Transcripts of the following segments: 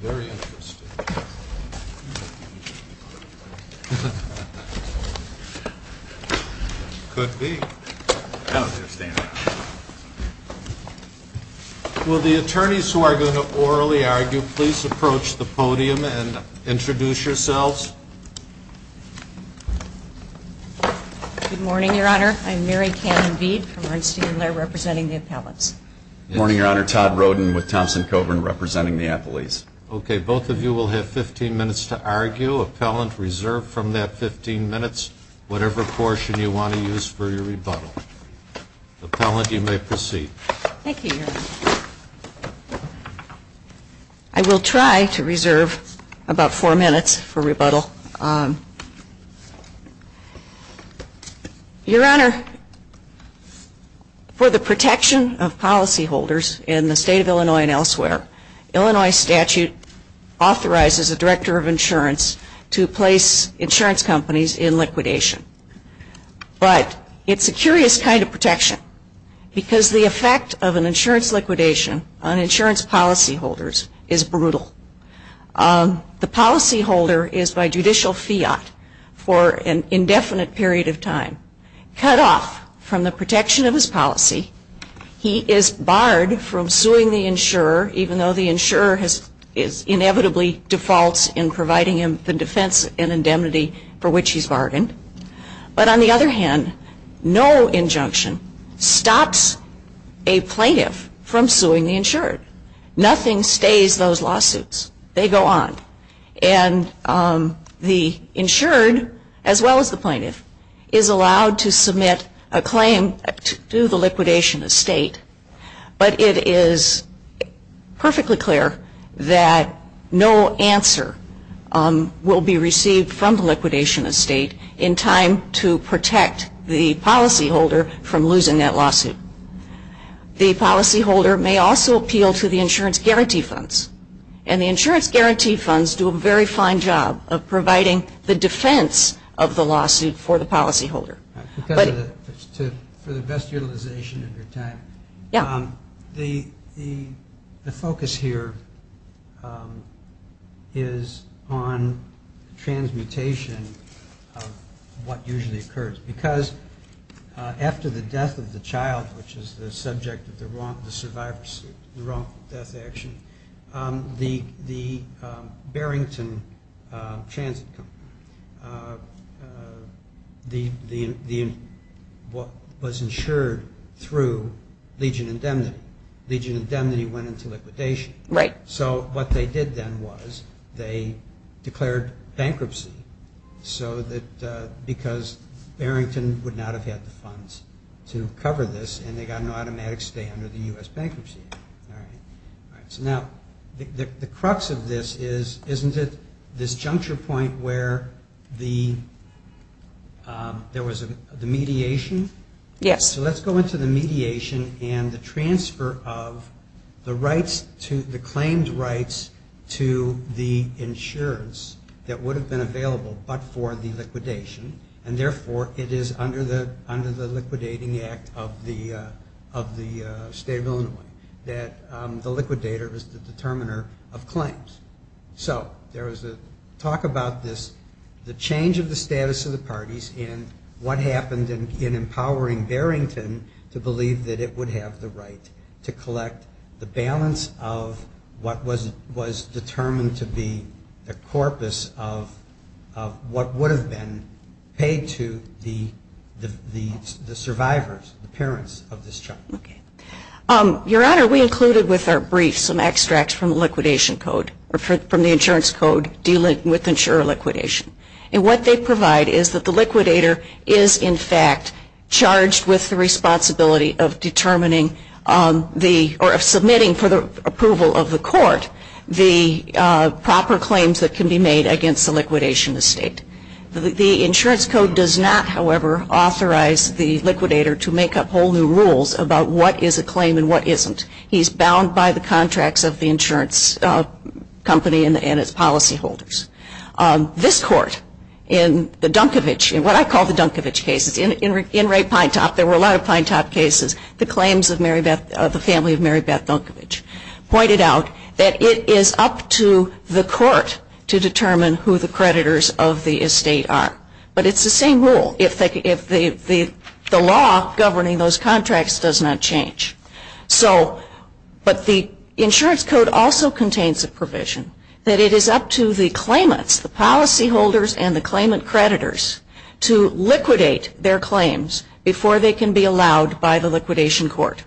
Very interesting. Could be. I don't understand. Will the attorneys who are going to orally argue, please approach the podium and introduce yourselves. Good morning, Your Honor. I'm Mary Cannon-Veed from Bernstein & Laird, representing the appellants. Good morning, Your Honor. Todd Roden with Thompson & Coburn, representing the appellees. Okay. Both of you will have 15 minutes to argue. Appellant, reserve from that 15 minutes whatever portion you want to use for your rebuttal. Appellant, you may proceed. Thank you, Your Honor. I will try to reserve about four minutes for rebuttal. Your Honor, for the protection of policyholders in the State of Illinois and elsewhere, Illinois statute authorizes the Director of Insurance to place insurance companies in liquidation. But it's a curious kind of protection because the effect of an insurance liquidation on insurance policyholders is brutal. The policyholder is by judicial fiat for an indefinite period of time cut off from the protection of his policy. He is barred from suing the insurer even though the insurer inevitably defaults in providing him the defense and indemnity for which he's bargained. But on the other hand, no injunction stops a plaintiff from suing the insured. Nothing stays those lawsuits. They go on. And the insured, as well as the plaintiff, is allowed to submit a claim to the liquidation estate. But it is perfectly clear that no answer will be received from the liquidation estate in time to protect the policyholder from losing that lawsuit. The policyholder may also appeal to the insurance guarantee funds. And the insurance guarantee funds do a very fine job of providing the defense of the lawsuit for the policyholder. For the best utilization of your time, the focus here is on transmutation of what usually occurs. Because after the death of the child, which is the subject of the survivor's wrongful death action, the Barrington Transit Company was insured through Legion Indemnity. Legion Indemnity went into liquidation. So what they did then was they declared bankruptcy because Barrington would not have had the funds to cover this, and they got an automatic stay under the U.S. bankruptcy. So now, the crux of this is, isn't it this juncture point where there was the mediation? Yes. So let's go into the mediation and the transfer of the claims rights to the insurance that would have been available but for the liquidation. And therefore, it is under the Liquidating Act of the State of Illinois that the liquidator is the determiner of claims. So there was a talk about this, the change of the status of the parties, and what happened in empowering Barrington to believe that it would have the right to collect the balance of what was determined to be the corpus of what would have been paid to the survivors, the parents of this child. Your Honor, we included with our brief some extracts from the liquidation code, from the insurance code dealing with insurer liquidation. And what they provide is that the liquidator is in fact charged with the responsibility of determining the, or submitting for the proper claims that can be made against the liquidation estate. The insurance code does not, however, authorize the liquidator to make up whole new rules about what is a claim and what isn't. He's bound by the contracts of the insurance company and its policy holders. This Court, in the Dunkevich, in what I call the Dunkevich cases, in Ray Pinetop, there were a lot of Pinetop cases, the claims of the family of Mary Beth Dunkevich, pointed out that it is up to the court to determine who the creditors of the estate are. But it's the same rule. If the law governing those contracts does not change. So, but the insurance code also contains a provision that it is up to the claimants, the policy holders and the claimant creditors, to liquidate their claims before they can be allowed by the liquidation court.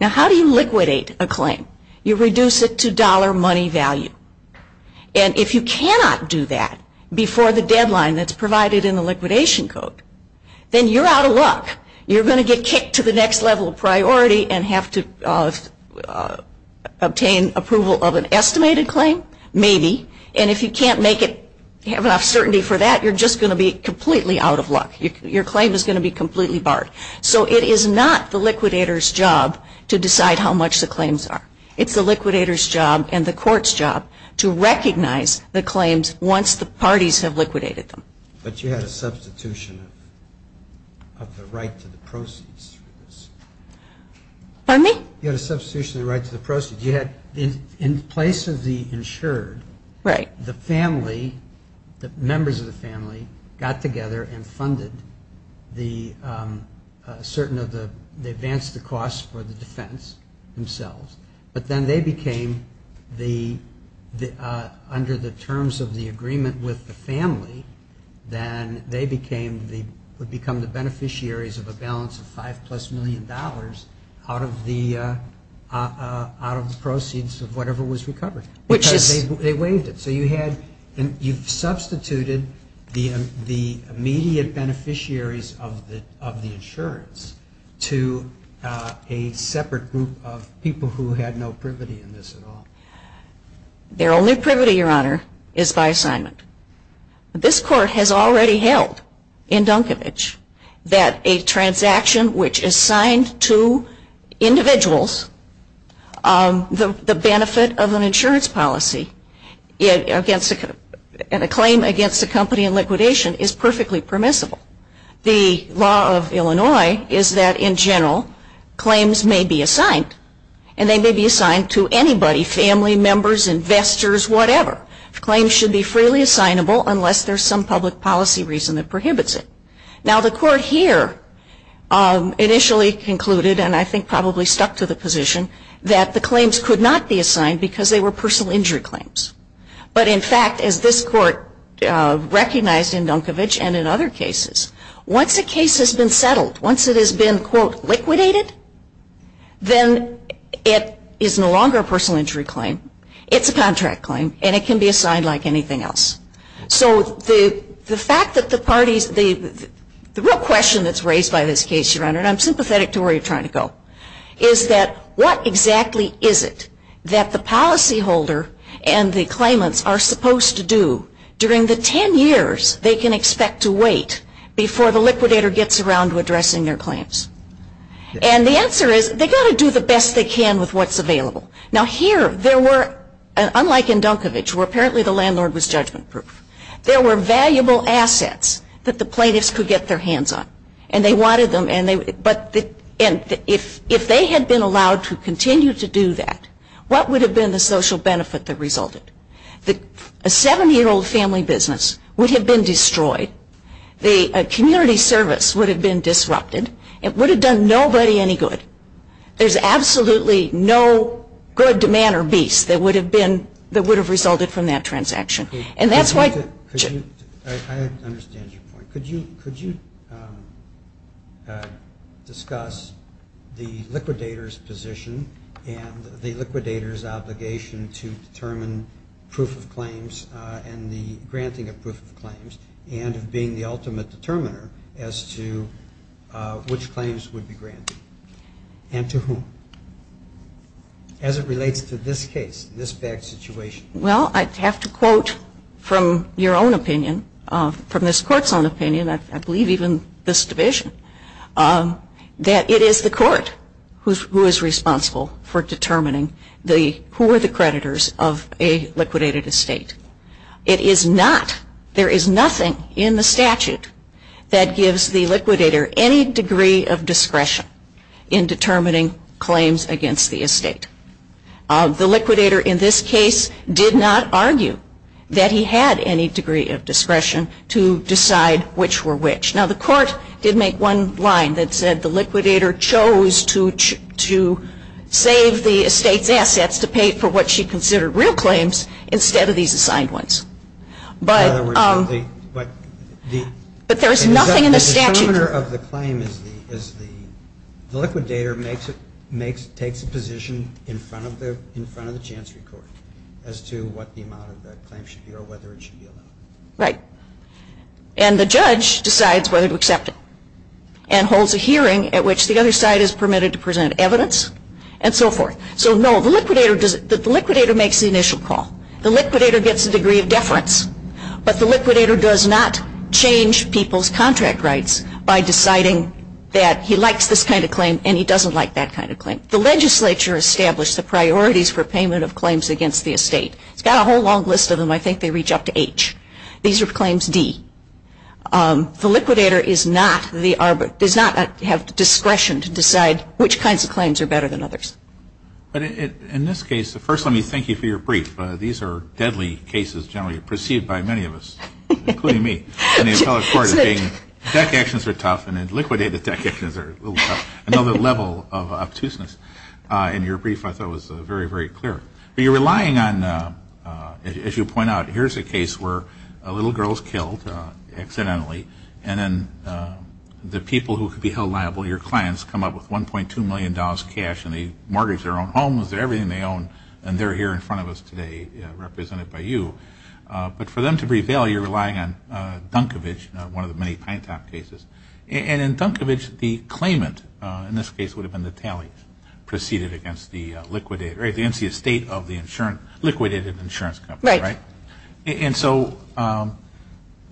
Now how do you liquidate a claim? You reduce it to dollar money value. And if you cannot do that before the deadline that's provided in the liquidation code, then you're out of luck. You're going to get kicked to the next level of priority and have to obtain approval of an estimated claim, maybe. And if you can't make it, have enough certainty for that, you're just going to be completely out of luck. Your claim is going to be completely barred. So it is not the liquidator's job to decide how much the claims are. It's the liquidator's job and the court's job to recognize the claims once the parties have liquidated them. But you had a substitution of the right to the proceeds for this. Pardon me? You had a substitution of the right to the proceeds. You had, in place of the insured, Right. the family, the members of the family, got together and funded the, certain of the, they advanced the costs for the defense themselves. But then they became the, under the terms of the agreement with the family, then they became the, would become the beneficiaries of a balance of five plus million dollars out of the, out of the proceeds of whatever was recovered. Which is They waived it. So you had, you've substituted the immediate beneficiaries of the insurance to a separate group of people who had no privity in this at all. Their only privity, Your Honor, is by assignment. This court has already held in Dunkovich that a transaction which is signed to individuals, the benefit of an insurance policy against a, and a claim against a company in liquidation is perfectly permissible. The law of Illinois is that, in general, claims may be assigned. And they may be assigned to anybody, family members, investors, whatever. Claims should be freely assignable unless there's some public policy reason that prohibits it. Now the court here initially concluded, and I think probably stuck to the position, that the claims could not be assigned because they were personal injury claims. But in fact, as this court recognized in Dunkovich and in other cases, once a case has been settled, once it has been, quote, liquidated, then it is no longer a personal injury claim. It's a contract claim. And it can be assigned like anything else. So the fact that the parties, the real question that's raised by this case, Your Honor, and I'm sympathetic to where you're trying to go, is that what exactly is it that the policy holder and the claimants are supposed to do during the ten years they can expect to wait before the liquidator gets around to addressing their claims? And the answer is, they've got to do the best they can with what's available. Now here, there were, unlike in Dunkovich, where apparently the landlord was judgment proof, there were valuable assets that the plaintiffs could get their hands on. And they wanted them, but if they had been allowed to continue to do that, what would have been the social benefit that resulted? A 70-year-old family business would have been destroyed. The community service would have been disrupted. It would have done nobody any good. There's absolutely no good, man, or beast that would have been, that would have resulted from that transaction. And that's why I understand your point. Could you discuss the liquidator's position and the liquidator's obligation to determine proof of claims and the granting of proof of claims and of being the ultimate determiner as to which claims would be granted? And to whom? As it relates to this case, this bad situation. Well, I'd have to quote from your own opinion, from this Court's own opinion, I believe even this Division, that it is the Court who is responsible for determining the, who are the creditors of a liquidated estate. It is not, there is nothing in the statute that gives the liquidator any degree of discretion in determining claims against the estate. The liquidator in this case did not argue that he had any degree of discretion to decide which were which. Now, the Court did make one line that said the liquidator chose to save the estate's assets to pay for what she considered real claims instead of these assigned ones. In other words, the, but the But there is nothing in the statute The determiner of the claim is the, is the, the liquidator makes it, makes, takes a position in front of the, in front of the Chancery Court as to what the amount of the claim should be or whether it should be allowed. Right. And the judge decides whether to accept it and holds a hearing at which the other side is permitted to present evidence and so forth. So no, the liquidator does, the liquidator gets a degree of deference, but the liquidator does not change people's contract rights by deciding that he likes this kind of claim and he doesn't like that kind of claim. The legislature established the priorities for payment of claims against the estate. It's got a whole long list of them. I think they reach up to H. These are claims D. The liquidator is not the, does not have discretion to decide which kinds of claims are better than others. But in this case, first let me thank you for your brief. These are deadly cases generally perceived by many of us, including me, in the appellate court of being deck actions are tough and then liquidator deck actions are a little tough, another level of obtuseness in your brief I thought was very, very clear. But you're relying on, as you point out, here's a case where a little girl is killed accidentally and then the people who could be held liable, your clients, come up with $1.2 million cash and they mortgage their own homes and everything they own and they're here in front of us today represented by you. But for them to prevail, you're relying on Dunkevich, one of the many Pintop cases. And in Dunkevich, the claimant in this case would have been the tally preceded against the liquidator, against the estate of the liquidated insurance company. Right. And so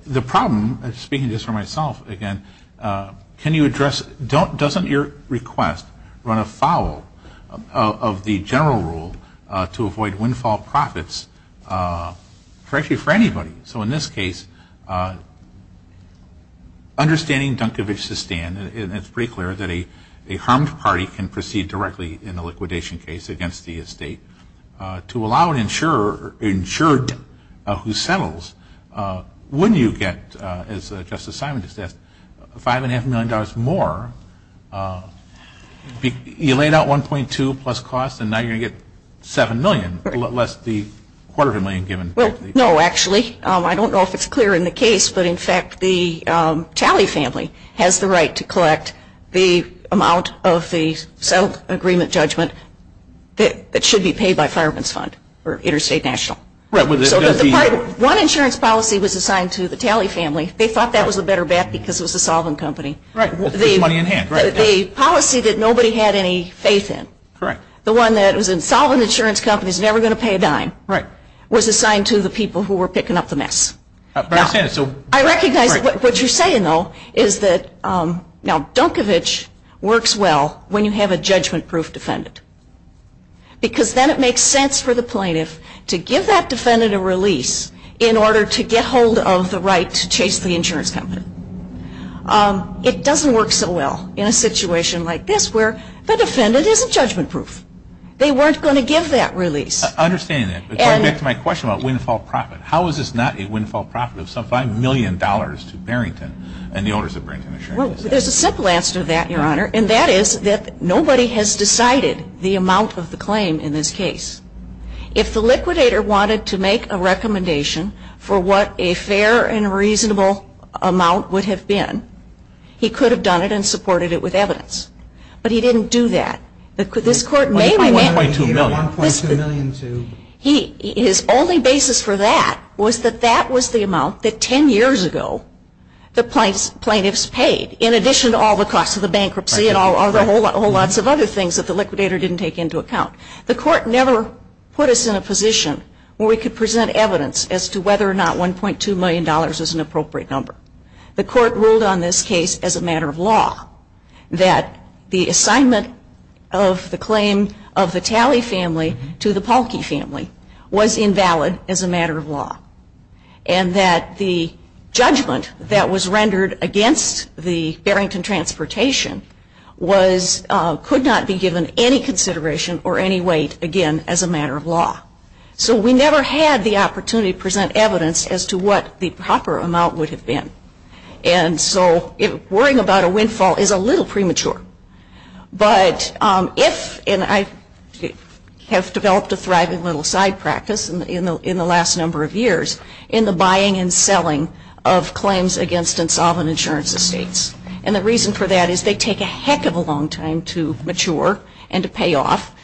the problem, speaking just for myself again, can you address, doesn't your request run afoul of the general rule to avoid windfall profits for anybody? So in this case, understanding Dunkevich's stand, it's pretty clear that a harmed party can proceed directly in a liquidation case against the estate to allow an insured who settles, wouldn't you get, as Justice Simon just asked, $5.5 million more? You laid out $1.2 million plus costs and now you're going to get $7 million, less the quarter of a million given. No, actually. I don't know if it's clear in the case, but in fact the Talley family has the right to collect the amount of the settlement agreement judgment that should be paid by Fireman's Fund or Interstate National. Right. One insurance policy was assigned to the Talley family. They thought that was a better bet because it was a solvent company. Right. It puts money in hand. The policy that nobody had any faith in. Correct. The one that was a solvent insurance company is never going to pay a dime. Right. Was assigned to the people who were picking up the mess. I understand. I recognize what you're saying, though, is that now Dunkevich works well when you have a judgment-proof defendant because then it makes sense for the plaintiff to give that defendant a release in order to get hold of the right to chase the insurance company. It doesn't work so well in a situation like this where the defendant isn't judgment-proof. They weren't going to give that release. I understand that, but going back to my question about windfall profit, how is this not a windfall profit of some $5 million to Barrington and the owners of Barrington Insurance? There's a simple answer to that, Your Honor, and that is that nobody has decided the amount of the claim in this case. If the liquidator wanted to make a recommendation for what a fair and reasonable amount would have been, he could have done it and supported it with evidence. But he didn't do that. This Court may find that way, too. His only basis for that was that that was the amount that 10 years ago the plaintiffs paid in addition to all the costs of the bankruptcy and all the whole lots of other things that the liquidator didn't take into account. The Court never put us in a position where we could present evidence as to whether or not $1.2 million is an appropriate number. The Court ruled on this case as a matter of law, that the assignment of the claim of the Talley family to the Pahlke family was invalid as a matter of law, and that the judgment that was rendered against the Barrington Transportation could not be given any consideration or any weight, again, as a matter of law. So we never had the opportunity to present evidence as to what the proper amount would have been. And so worrying about a windfall is a little premature. But if, and I have developed a thriving little side practice in the last number of years, in the buying and selling of claims against Insolvent Insurance Estates. And the reason for that is they take a heck of a long time to mature and to pay off.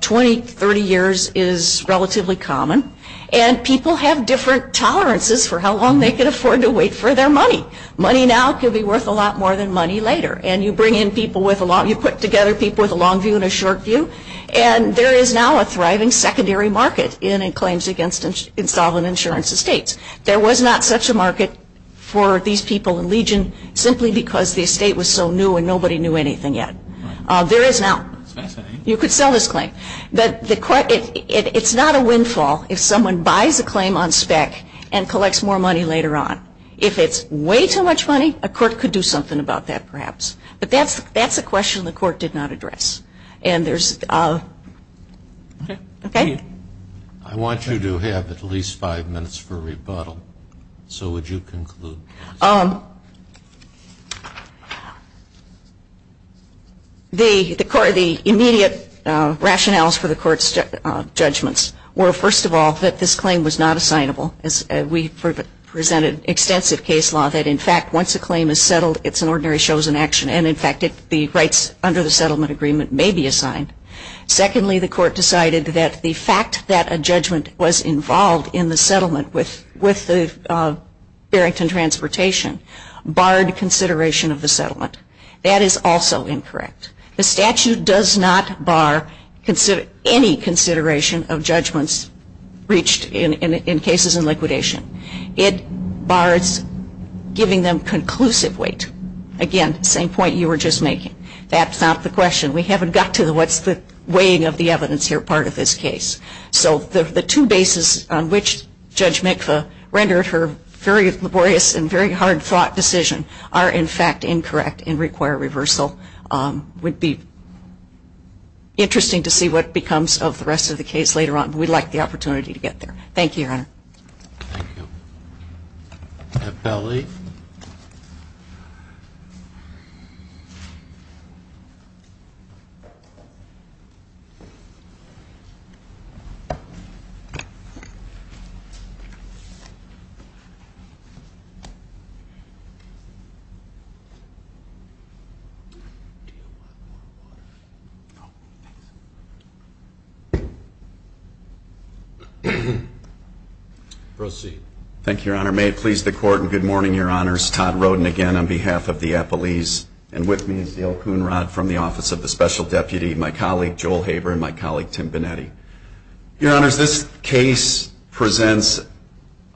20, 30 years is relatively common. And people have different tolerances for how long they can afford to wait for their money. Money now can be worth a lot more than money later. And you bring in people with a long, you put together people with a long view and a short view. And there is now a thriving secondary market in claims against Insolvent Insurance Estates. There was not such a market for these people in Legion simply because the estate was so new and nobody knew anything yet. There is now. You could sell this claim. But it's not a windfall if someone buys a claim on spec and collects more money later on. If it's way too much money, a court could do something about that perhaps. But that's a question the court did not address. And there's, okay? I want you to have at least five minutes for rebuttal. So would you conclude? The immediate rationales for the court's judgments were, first of all, that this claim was not assignable. We presented extensive case law that, in fact, once a claim is settled, it's an ordinary chosen action. And, in fact, the rights under the settlement agreement may be assigned. Secondly, the court decided that the fact that a judgment was involved in the settlement with the Barrington Transportation barred consideration of the settlement. That is also incorrect. The statute does not bar any consideration of judgments reached in cases in liquidation. It bars giving them conclusive weight. Again, same point you were just making. That's not the question. We haven't got to what's the weighing of the evidence here part of this case. So the two bases on which Judge Mikva rendered her very laborious and very hard-fought decision are, in fact, incorrect and require reversal. It would be interesting to see what becomes of the rest of the case later on. We'd like the opportunity to get there. Thank you, Your Honor. Thank you. Appellee. Proceed. Thank you, Your Honor. May it please the Court, and good morning, Your Honors. Todd Roden again on behalf of the appellees, and with me is Dale Coonrod from the Office of the Special Deputy, my colleague, Joel Haber, and my colleague, Tim Bonetti. Your Honors, this case presents,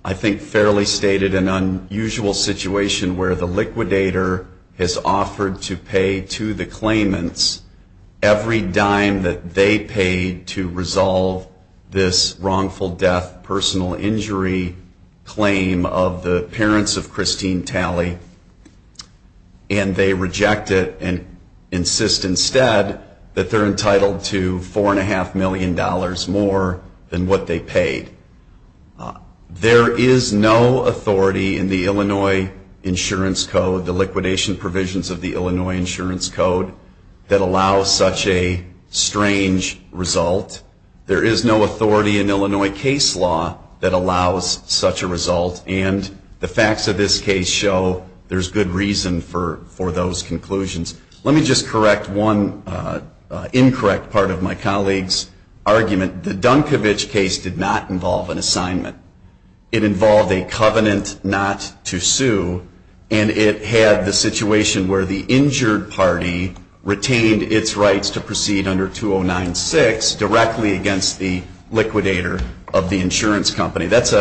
I think fairly stated, an unusual situation where the liquidator has offered to pay to the claimants every dime that they paid to resolve this wrongful death personal injury claim of the parents of Christine Talley, and they reject it and insist instead that they're entitled to $4.5 million more than what they paid. There is no authority in the Illinois Insurance Code, the liquidation provisions of the Illinois Insurance Code, that allows such a strange result. There is no authority in Illinois case law that allows such a result, and the facts of this case show there's good reason for those conclusions. Let me just correct one incorrect part of my colleague's argument. The Dunkovich case did not involve an assignment. It involved a covenant not to sue, and it had the situation where the injured party retained its rights to proceed under 209-6 directly against the liquidator of the insurance company. That's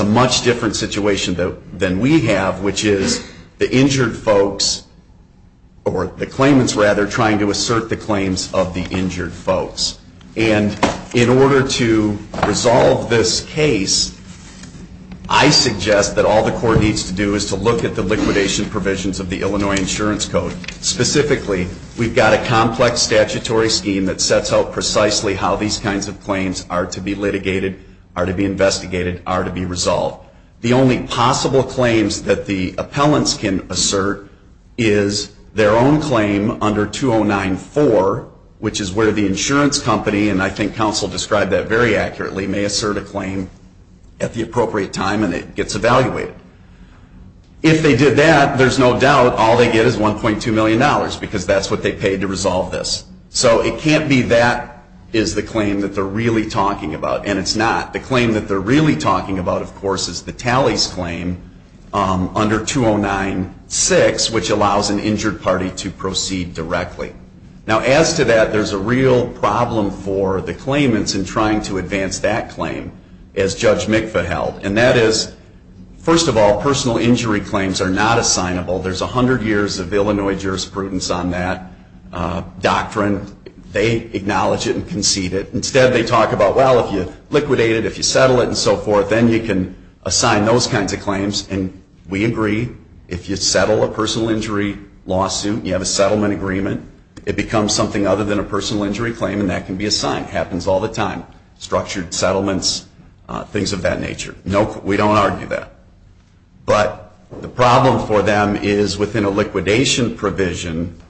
a much different situation than we have, which is the injured folks, or the claimants rather, trying to assert the claims of the injured folks. And in order to resolve this case, I suggest that all the court needs to do is to look at the liquidation provisions of the Illinois Insurance Code. Specifically, we've got a complex statutory scheme that sets out precisely how these kinds of claims are to be litigated, are to be investigated, are to be resolved. The only possible claims that the appellants can assert is their own claim under 209-4, which is where the insurance company, and I think counsel described that very accurately, may assert a claim at the appropriate time and it gets evaluated. If they did that, there's no doubt all they get is $1.2 million because that's what they paid to resolve this. So it can't be that is the claim that they're really talking about, and it's not. The claim that they're really talking about, of course, is the tallies claim under 209-6, which allows an injured party to proceed directly. Now, as to that, there's a real problem for the claimants in trying to advance that claim as Judge Mikva held, and that is, first of all, personal injury claims are not assignable. There's 100 years of Illinois jurisprudence on that doctrine. They acknowledge it and concede it. Instead, they talk about, well, if you liquidate it, if you settle it, and so forth, then you can assign those kinds of claims, and we agree. If you settle a personal injury lawsuit, you have a settlement agreement. It becomes something other than a personal injury claim, and that can be assigned. It happens all the time, structured settlements, things of that nature. We don't argue that. But the problem for them is within a liquidation provision,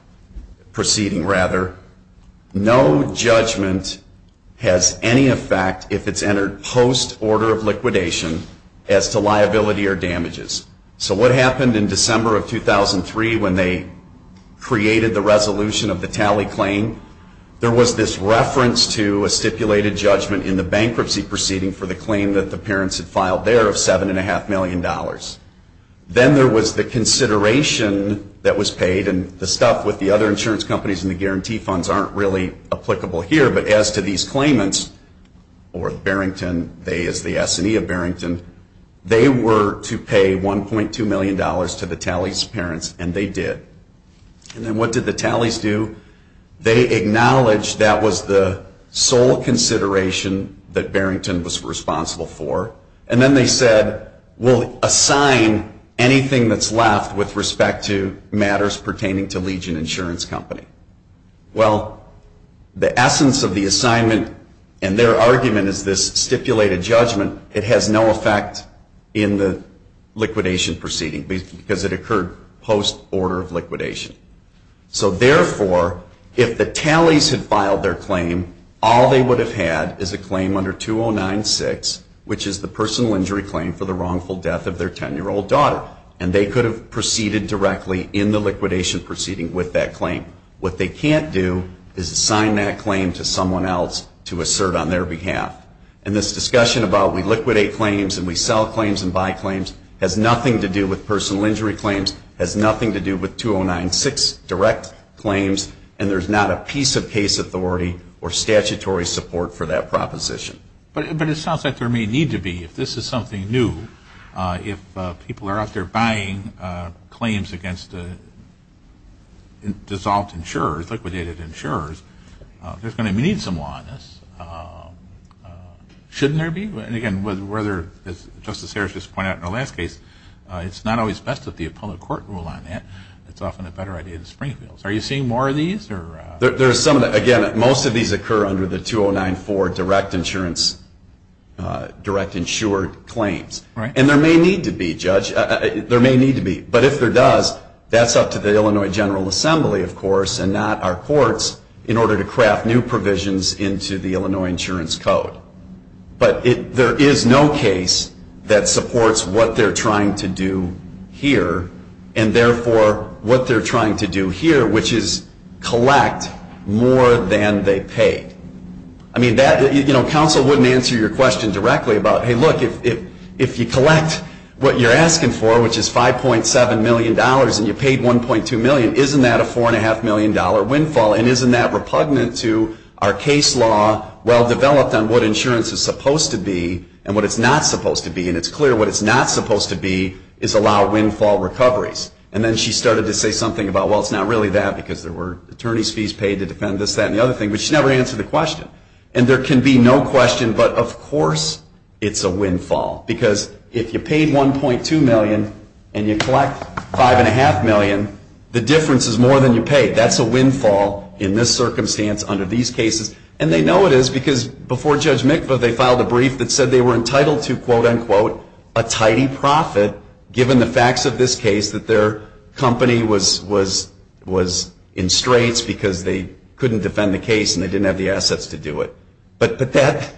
proceeding rather, no judgment has any effect if it's entered post-order of liquidation as to liability or damages. So what happened in December of 2003 when they created the resolution of the tally claim? There was this reference to a stipulated judgment in the bankruptcy proceeding for the claim that the parents had filed there of $7.5 million. Then there was the consideration that was paid, and the stuff with the other insurance companies and the guarantee funds aren't really applicable here. But as to these claimants, or Barrington, they as the S&E of Barrington, they were to pay $1.2 million to the tally's parents, and they did. And then what did the tallies do? They acknowledged that was the sole consideration that Barrington was responsible for, and then they said, we'll assign anything that's left with respect to matters pertaining to Legion Insurance Company. Well, the essence of the assignment and their argument is this stipulated judgment. It has no effect in the liquidation proceeding because it occurred post-order of liquidation. So therefore, if the tallies had filed their claim, all they would have had is a claim under 2096, which is the personal injury claim for the wrongful death of their 10-year-old daughter. And they could have proceeded directly in the liquidation proceeding with that claim. What they can't do is assign that claim to someone else to assert on their behalf. And this discussion about we liquidate claims and we sell claims and buy claims has nothing to do with personal injury claims, has nothing to do with 2096 direct claims, and there's not a piece of case authority or statutory support for that proposition. But it sounds like there may need to be. If this is something new, if people are out there buying claims against dissolved insurers, liquidated insurers, there's going to need some law on this. Shouldn't there be? Again, whether, as Justice Harris just pointed out in the last case, it's not always best that the appellate court rule on that. It's often a better idea to Springfield's. Are you seeing more of these? Again, most of these occur under the 2094 direct insured claims. And there may need to be, Judge. There may need to be. But if there does, that's up to the Illinois General Assembly, of course, and not our courts in order to craft new provisions into the Illinois Insurance Code. But there is no case that supports what they're trying to do here and, therefore, what they're trying to do here, which is collect more than they pay. I mean, that, you know, counsel wouldn't answer your question directly about, hey, look, if you collect what you're asking for, which is $5.7 million, and you paid $1.2 million, isn't that a $4.5 million windfall? And isn't that repugnant to our case law well-developed on what insurance is supposed to be and what it's not supposed to be? And it's clear what it's not supposed to be is allow windfall recoveries. And then she started to say something about, well, it's not really that, because there were attorney's fees paid to defend this, that, and the other thing. But she never answered the question. And there can be no question, but, of course, it's a windfall. Because if you paid $1.2 million and you collect $5.5 million, the difference is more than you paid. That's a windfall in this circumstance under these cases. And they know it is because before Judge Mikva, they filed a brief that said they were entitled to, quote, unquote, a tidy profit given the facts of this case that their company was in straits because they couldn't defend the case and they didn't have the assets to do it. But that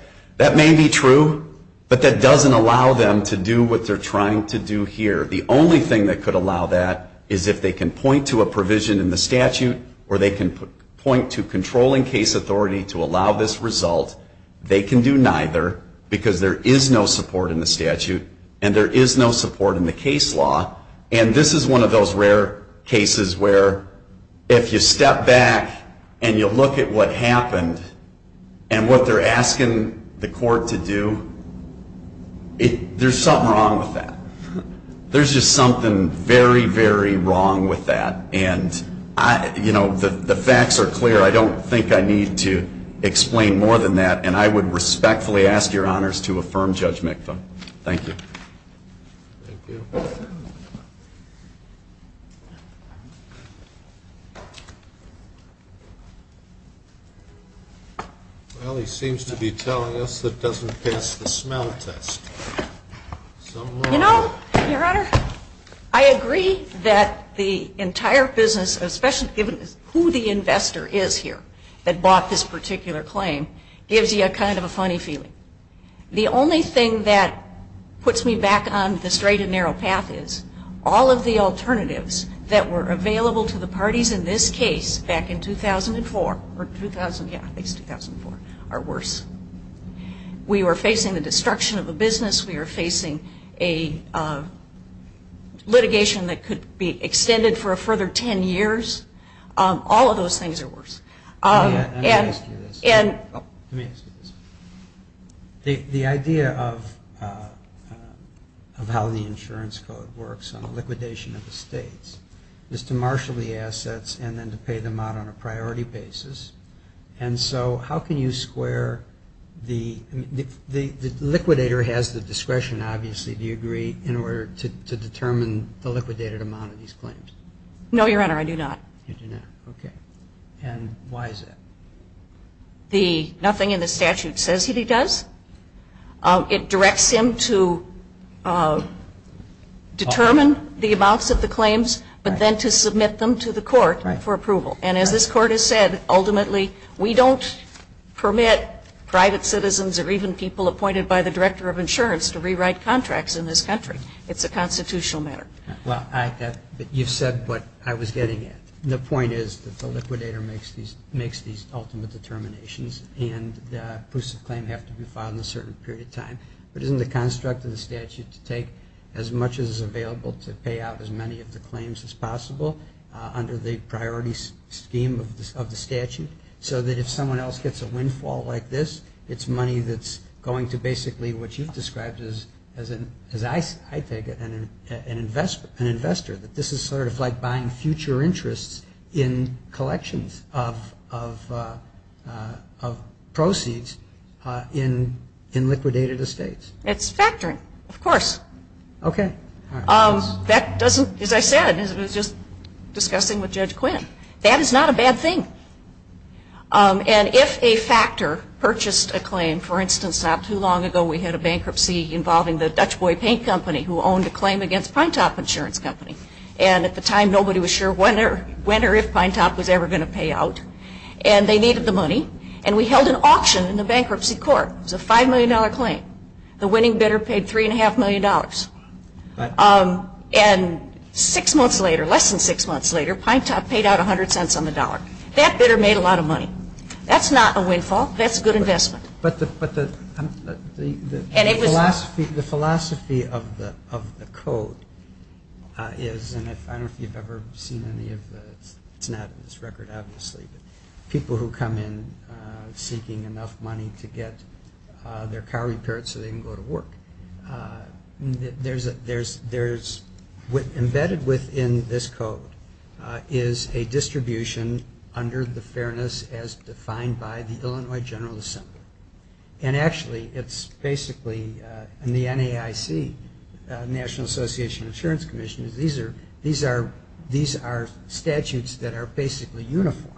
may be true, but that doesn't allow them to do what they're trying to do here. The only thing that could allow that is if they can point to a provision in the statute or they can point to controlling case authority to allow this result. They can do neither because there is no support in the statute and there is no support in the case law. And this is one of those rare cases where if you step back and you look at what happened and what they're asking the court to do, there's something wrong with that. There's just something very, very wrong with that. And, you know, the facts are clear. I don't think I need to explain more than that. And I would respectfully ask your honors to affirm Judge Mikva. Thank you. Thank you. Well, he seems to be telling us that doesn't pass the smell test. You know, your honor, I agree that the entire business, especially given who the investor is here that bought this particular claim, gives you a kind of a funny feeling. The only thing that puts me back on the straight and narrow path is all of the alternatives that were available to the parties in this case back in 2004, or 2000, yeah, at least 2004, are worse. We are facing the destruction of a business. We are facing a litigation that could be extended for a further ten years. All of those things are worse. Let me ask you this. Let me ask you this. The idea of how the insurance code works on liquidation of the states is to marshal the assets and then to pay them out on a priority basis. And so how can you square the liquidator has the discretion, obviously, do you agree, in order to determine the liquidated amount of these claims? No, your honor, I do not. You do not. Okay. And why is that? The nothing in the statute says that he does. It directs him to determine the amounts of the claims, but then to submit them to the court for approval. And as this court has said, ultimately, we don't permit private citizens or even people appointed by the director of insurance to rewrite contracts in this country. It's a constitutional matter. Well, you've said what I was getting at. The point is that the liquidator makes these ultimate determinations and the proofs of claim have to be filed in a certain period of time. But isn't the construct of the statute to take as much as is available to pay out as many of the claims as possible under the priority scheme of the statute so that if someone else gets a windfall like this, it's money that's going to basically what you've described as, I take it, an investor, that this is sort of like buying future interests in collections of proceeds in liquidated estates? It's factoring, of course. Okay. That doesn't, as I said, as I was just discussing with Judge Quinn, that is not a bad thing. And if a factor purchased a claim, for instance, not too long ago we had a bankruptcy involving the Dutch Boy Paint Company who owned a claim against Pinetop Insurance Company. And at the time nobody was sure when or if Pinetop was ever going to pay out. And they needed the money. And we held an auction in the bankruptcy court. It was a $5 million claim. The winning bidder paid $3.5 million. And six months later, less than six months later, Pinetop paid out 100 cents on the dollar. That bidder made a lot of money. That's not a windfall. That's a good investment. But the philosophy of the code is, and I don't know if you've ever seen any of the, it's not in this record obviously, but people who come in seeking enough money to get their car repaired so they can go to work. There's embedded within this code is a distribution under the fairness as defined by the Illinois General Assembly. And actually it's basically in the NAIC, National Association of Insurance Commission, these are statutes that are basically uniform.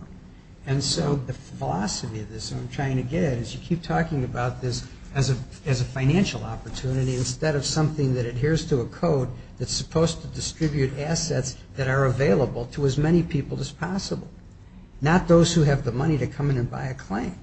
And so the philosophy of this I'm trying to get is you keep talking about this as a financial opportunity instead of something that adheres to a code that's supposed to distribute assets that are available to as many people as possible, not those who have the money to come in and buy a claim.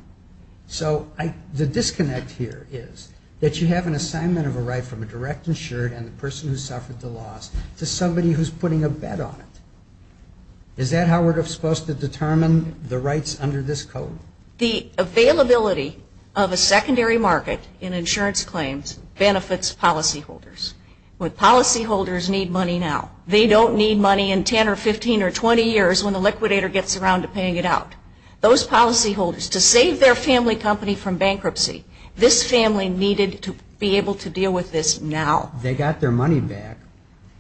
So the disconnect here is that you have an assignment of a right from a direct insured and the person who suffered the loss to somebody who's putting a bet on it. Is that how we're supposed to determine the rights under this code? The availability of a secondary market in insurance claims benefits policyholders. Policyholders need money now. They don't need money in 10 or 15 or 20 years when the liquidator gets around to paying it out. Those policyholders, to save their family company from bankruptcy, this family needed to be able to deal with this now. They got their money back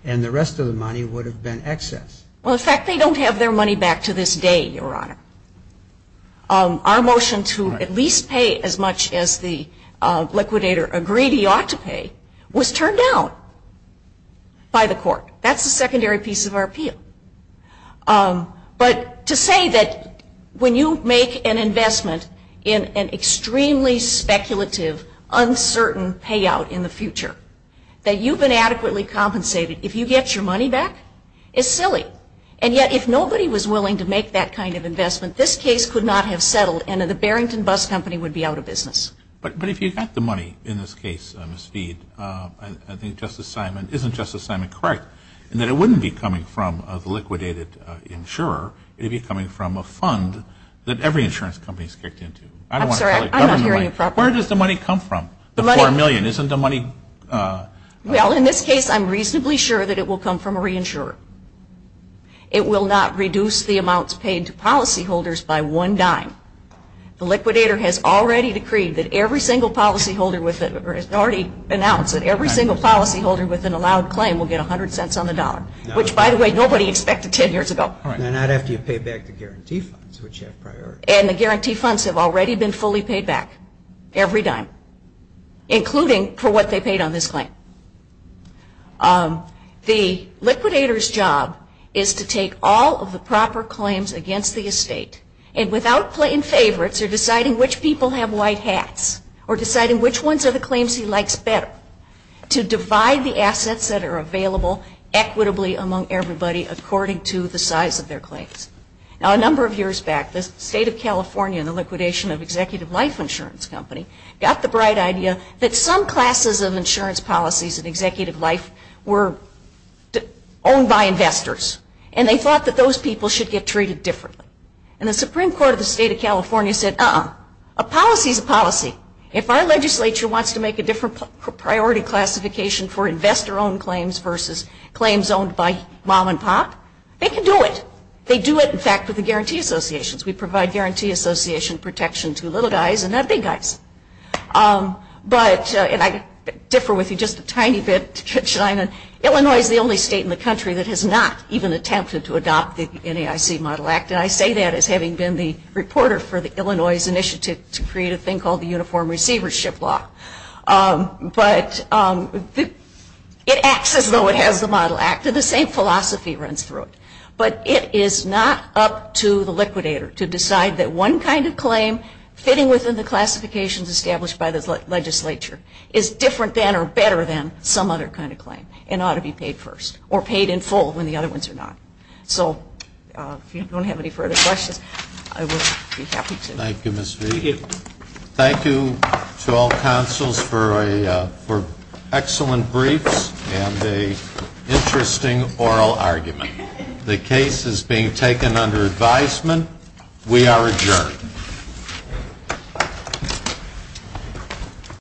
and the rest of the money would have been excess. Well, in fact, they don't have their money back to this day, Your Honor. Our motion to at least pay as much as the liquidator agreed he ought to pay was turned down by the court. That's the secondary piece of our appeal. But to say that when you make an investment in an extremely speculative, uncertain payout in the future, that you've been adequately compensated, if you get your money back, is silly. And yet if nobody was willing to make that kind of investment, this case could not have settled and the Barrington Bus Company would be out of business. But if you got the money in this case, Ms. Speed, I think Justice Simon, isn't Justice Simon correct, in that it wouldn't be coming from a liquidated insurer, it would be coming from a fund that every insurance company has kicked into? I'm sorry, I'm not hearing you properly. Where does the money come from? The $4 million, isn't the money? Well, in this case, I'm reasonably sure that it will come from a reinsurer. It will not reduce the amounts paid to policyholders by one dime. The liquidator has already decreed that every single policyholder, has already announced that every single policyholder with an allowed claim will get 100 cents on the dollar, which, by the way, nobody expected 10 years ago. Not after you pay back the guarantee funds, which have priority. And the guarantee funds have already been fully paid back, every dime, including for what they paid on this claim. The liquidator's job is to take all of the proper claims against the estate and without playing favorites or deciding which people have white hats or deciding which ones are the claims he likes better, to divide the assets that are available equitably among everybody according to the size of their claims. Now, a number of years back, the state of California and the liquidation of Executive Life Insurance Company got the bright idea that some classes of insurance policies at Executive Life were owned by investors. And they thought that those people should get treated differently. And the Supreme Court of the state of California said, uh-uh. A policy is a policy. If our legislature wants to make a different priority classification for investor-owned claims versus claims owned by mom and pop, they can do it. They do it, in fact, with the guarantee associations. We provide guarantee association protection to little guys and not big guys. But, and I differ with you just a tiny bit to chime in, Illinois is the only state in the country that has not even attempted to adopt the NAIC Model Act. And I say that as having been the reporter for the Illinois Initiative to create a thing called the Uniform Receivership Law. But it acts as though it has the Model Act, and the same philosophy runs through it. But it is not up to the liquidator to decide that one kind of claim fitting within the classifications established by the legislature is different than or better than some other kind of claim and ought to be paid first or paid in full when the other ones are not. So, if you don't have any further questions, I would be happy to. Thank you, Ms. V. Thank you to all counsels for excellent briefs and an interesting oral argument. The case is being taken under advisement. We are adjourned.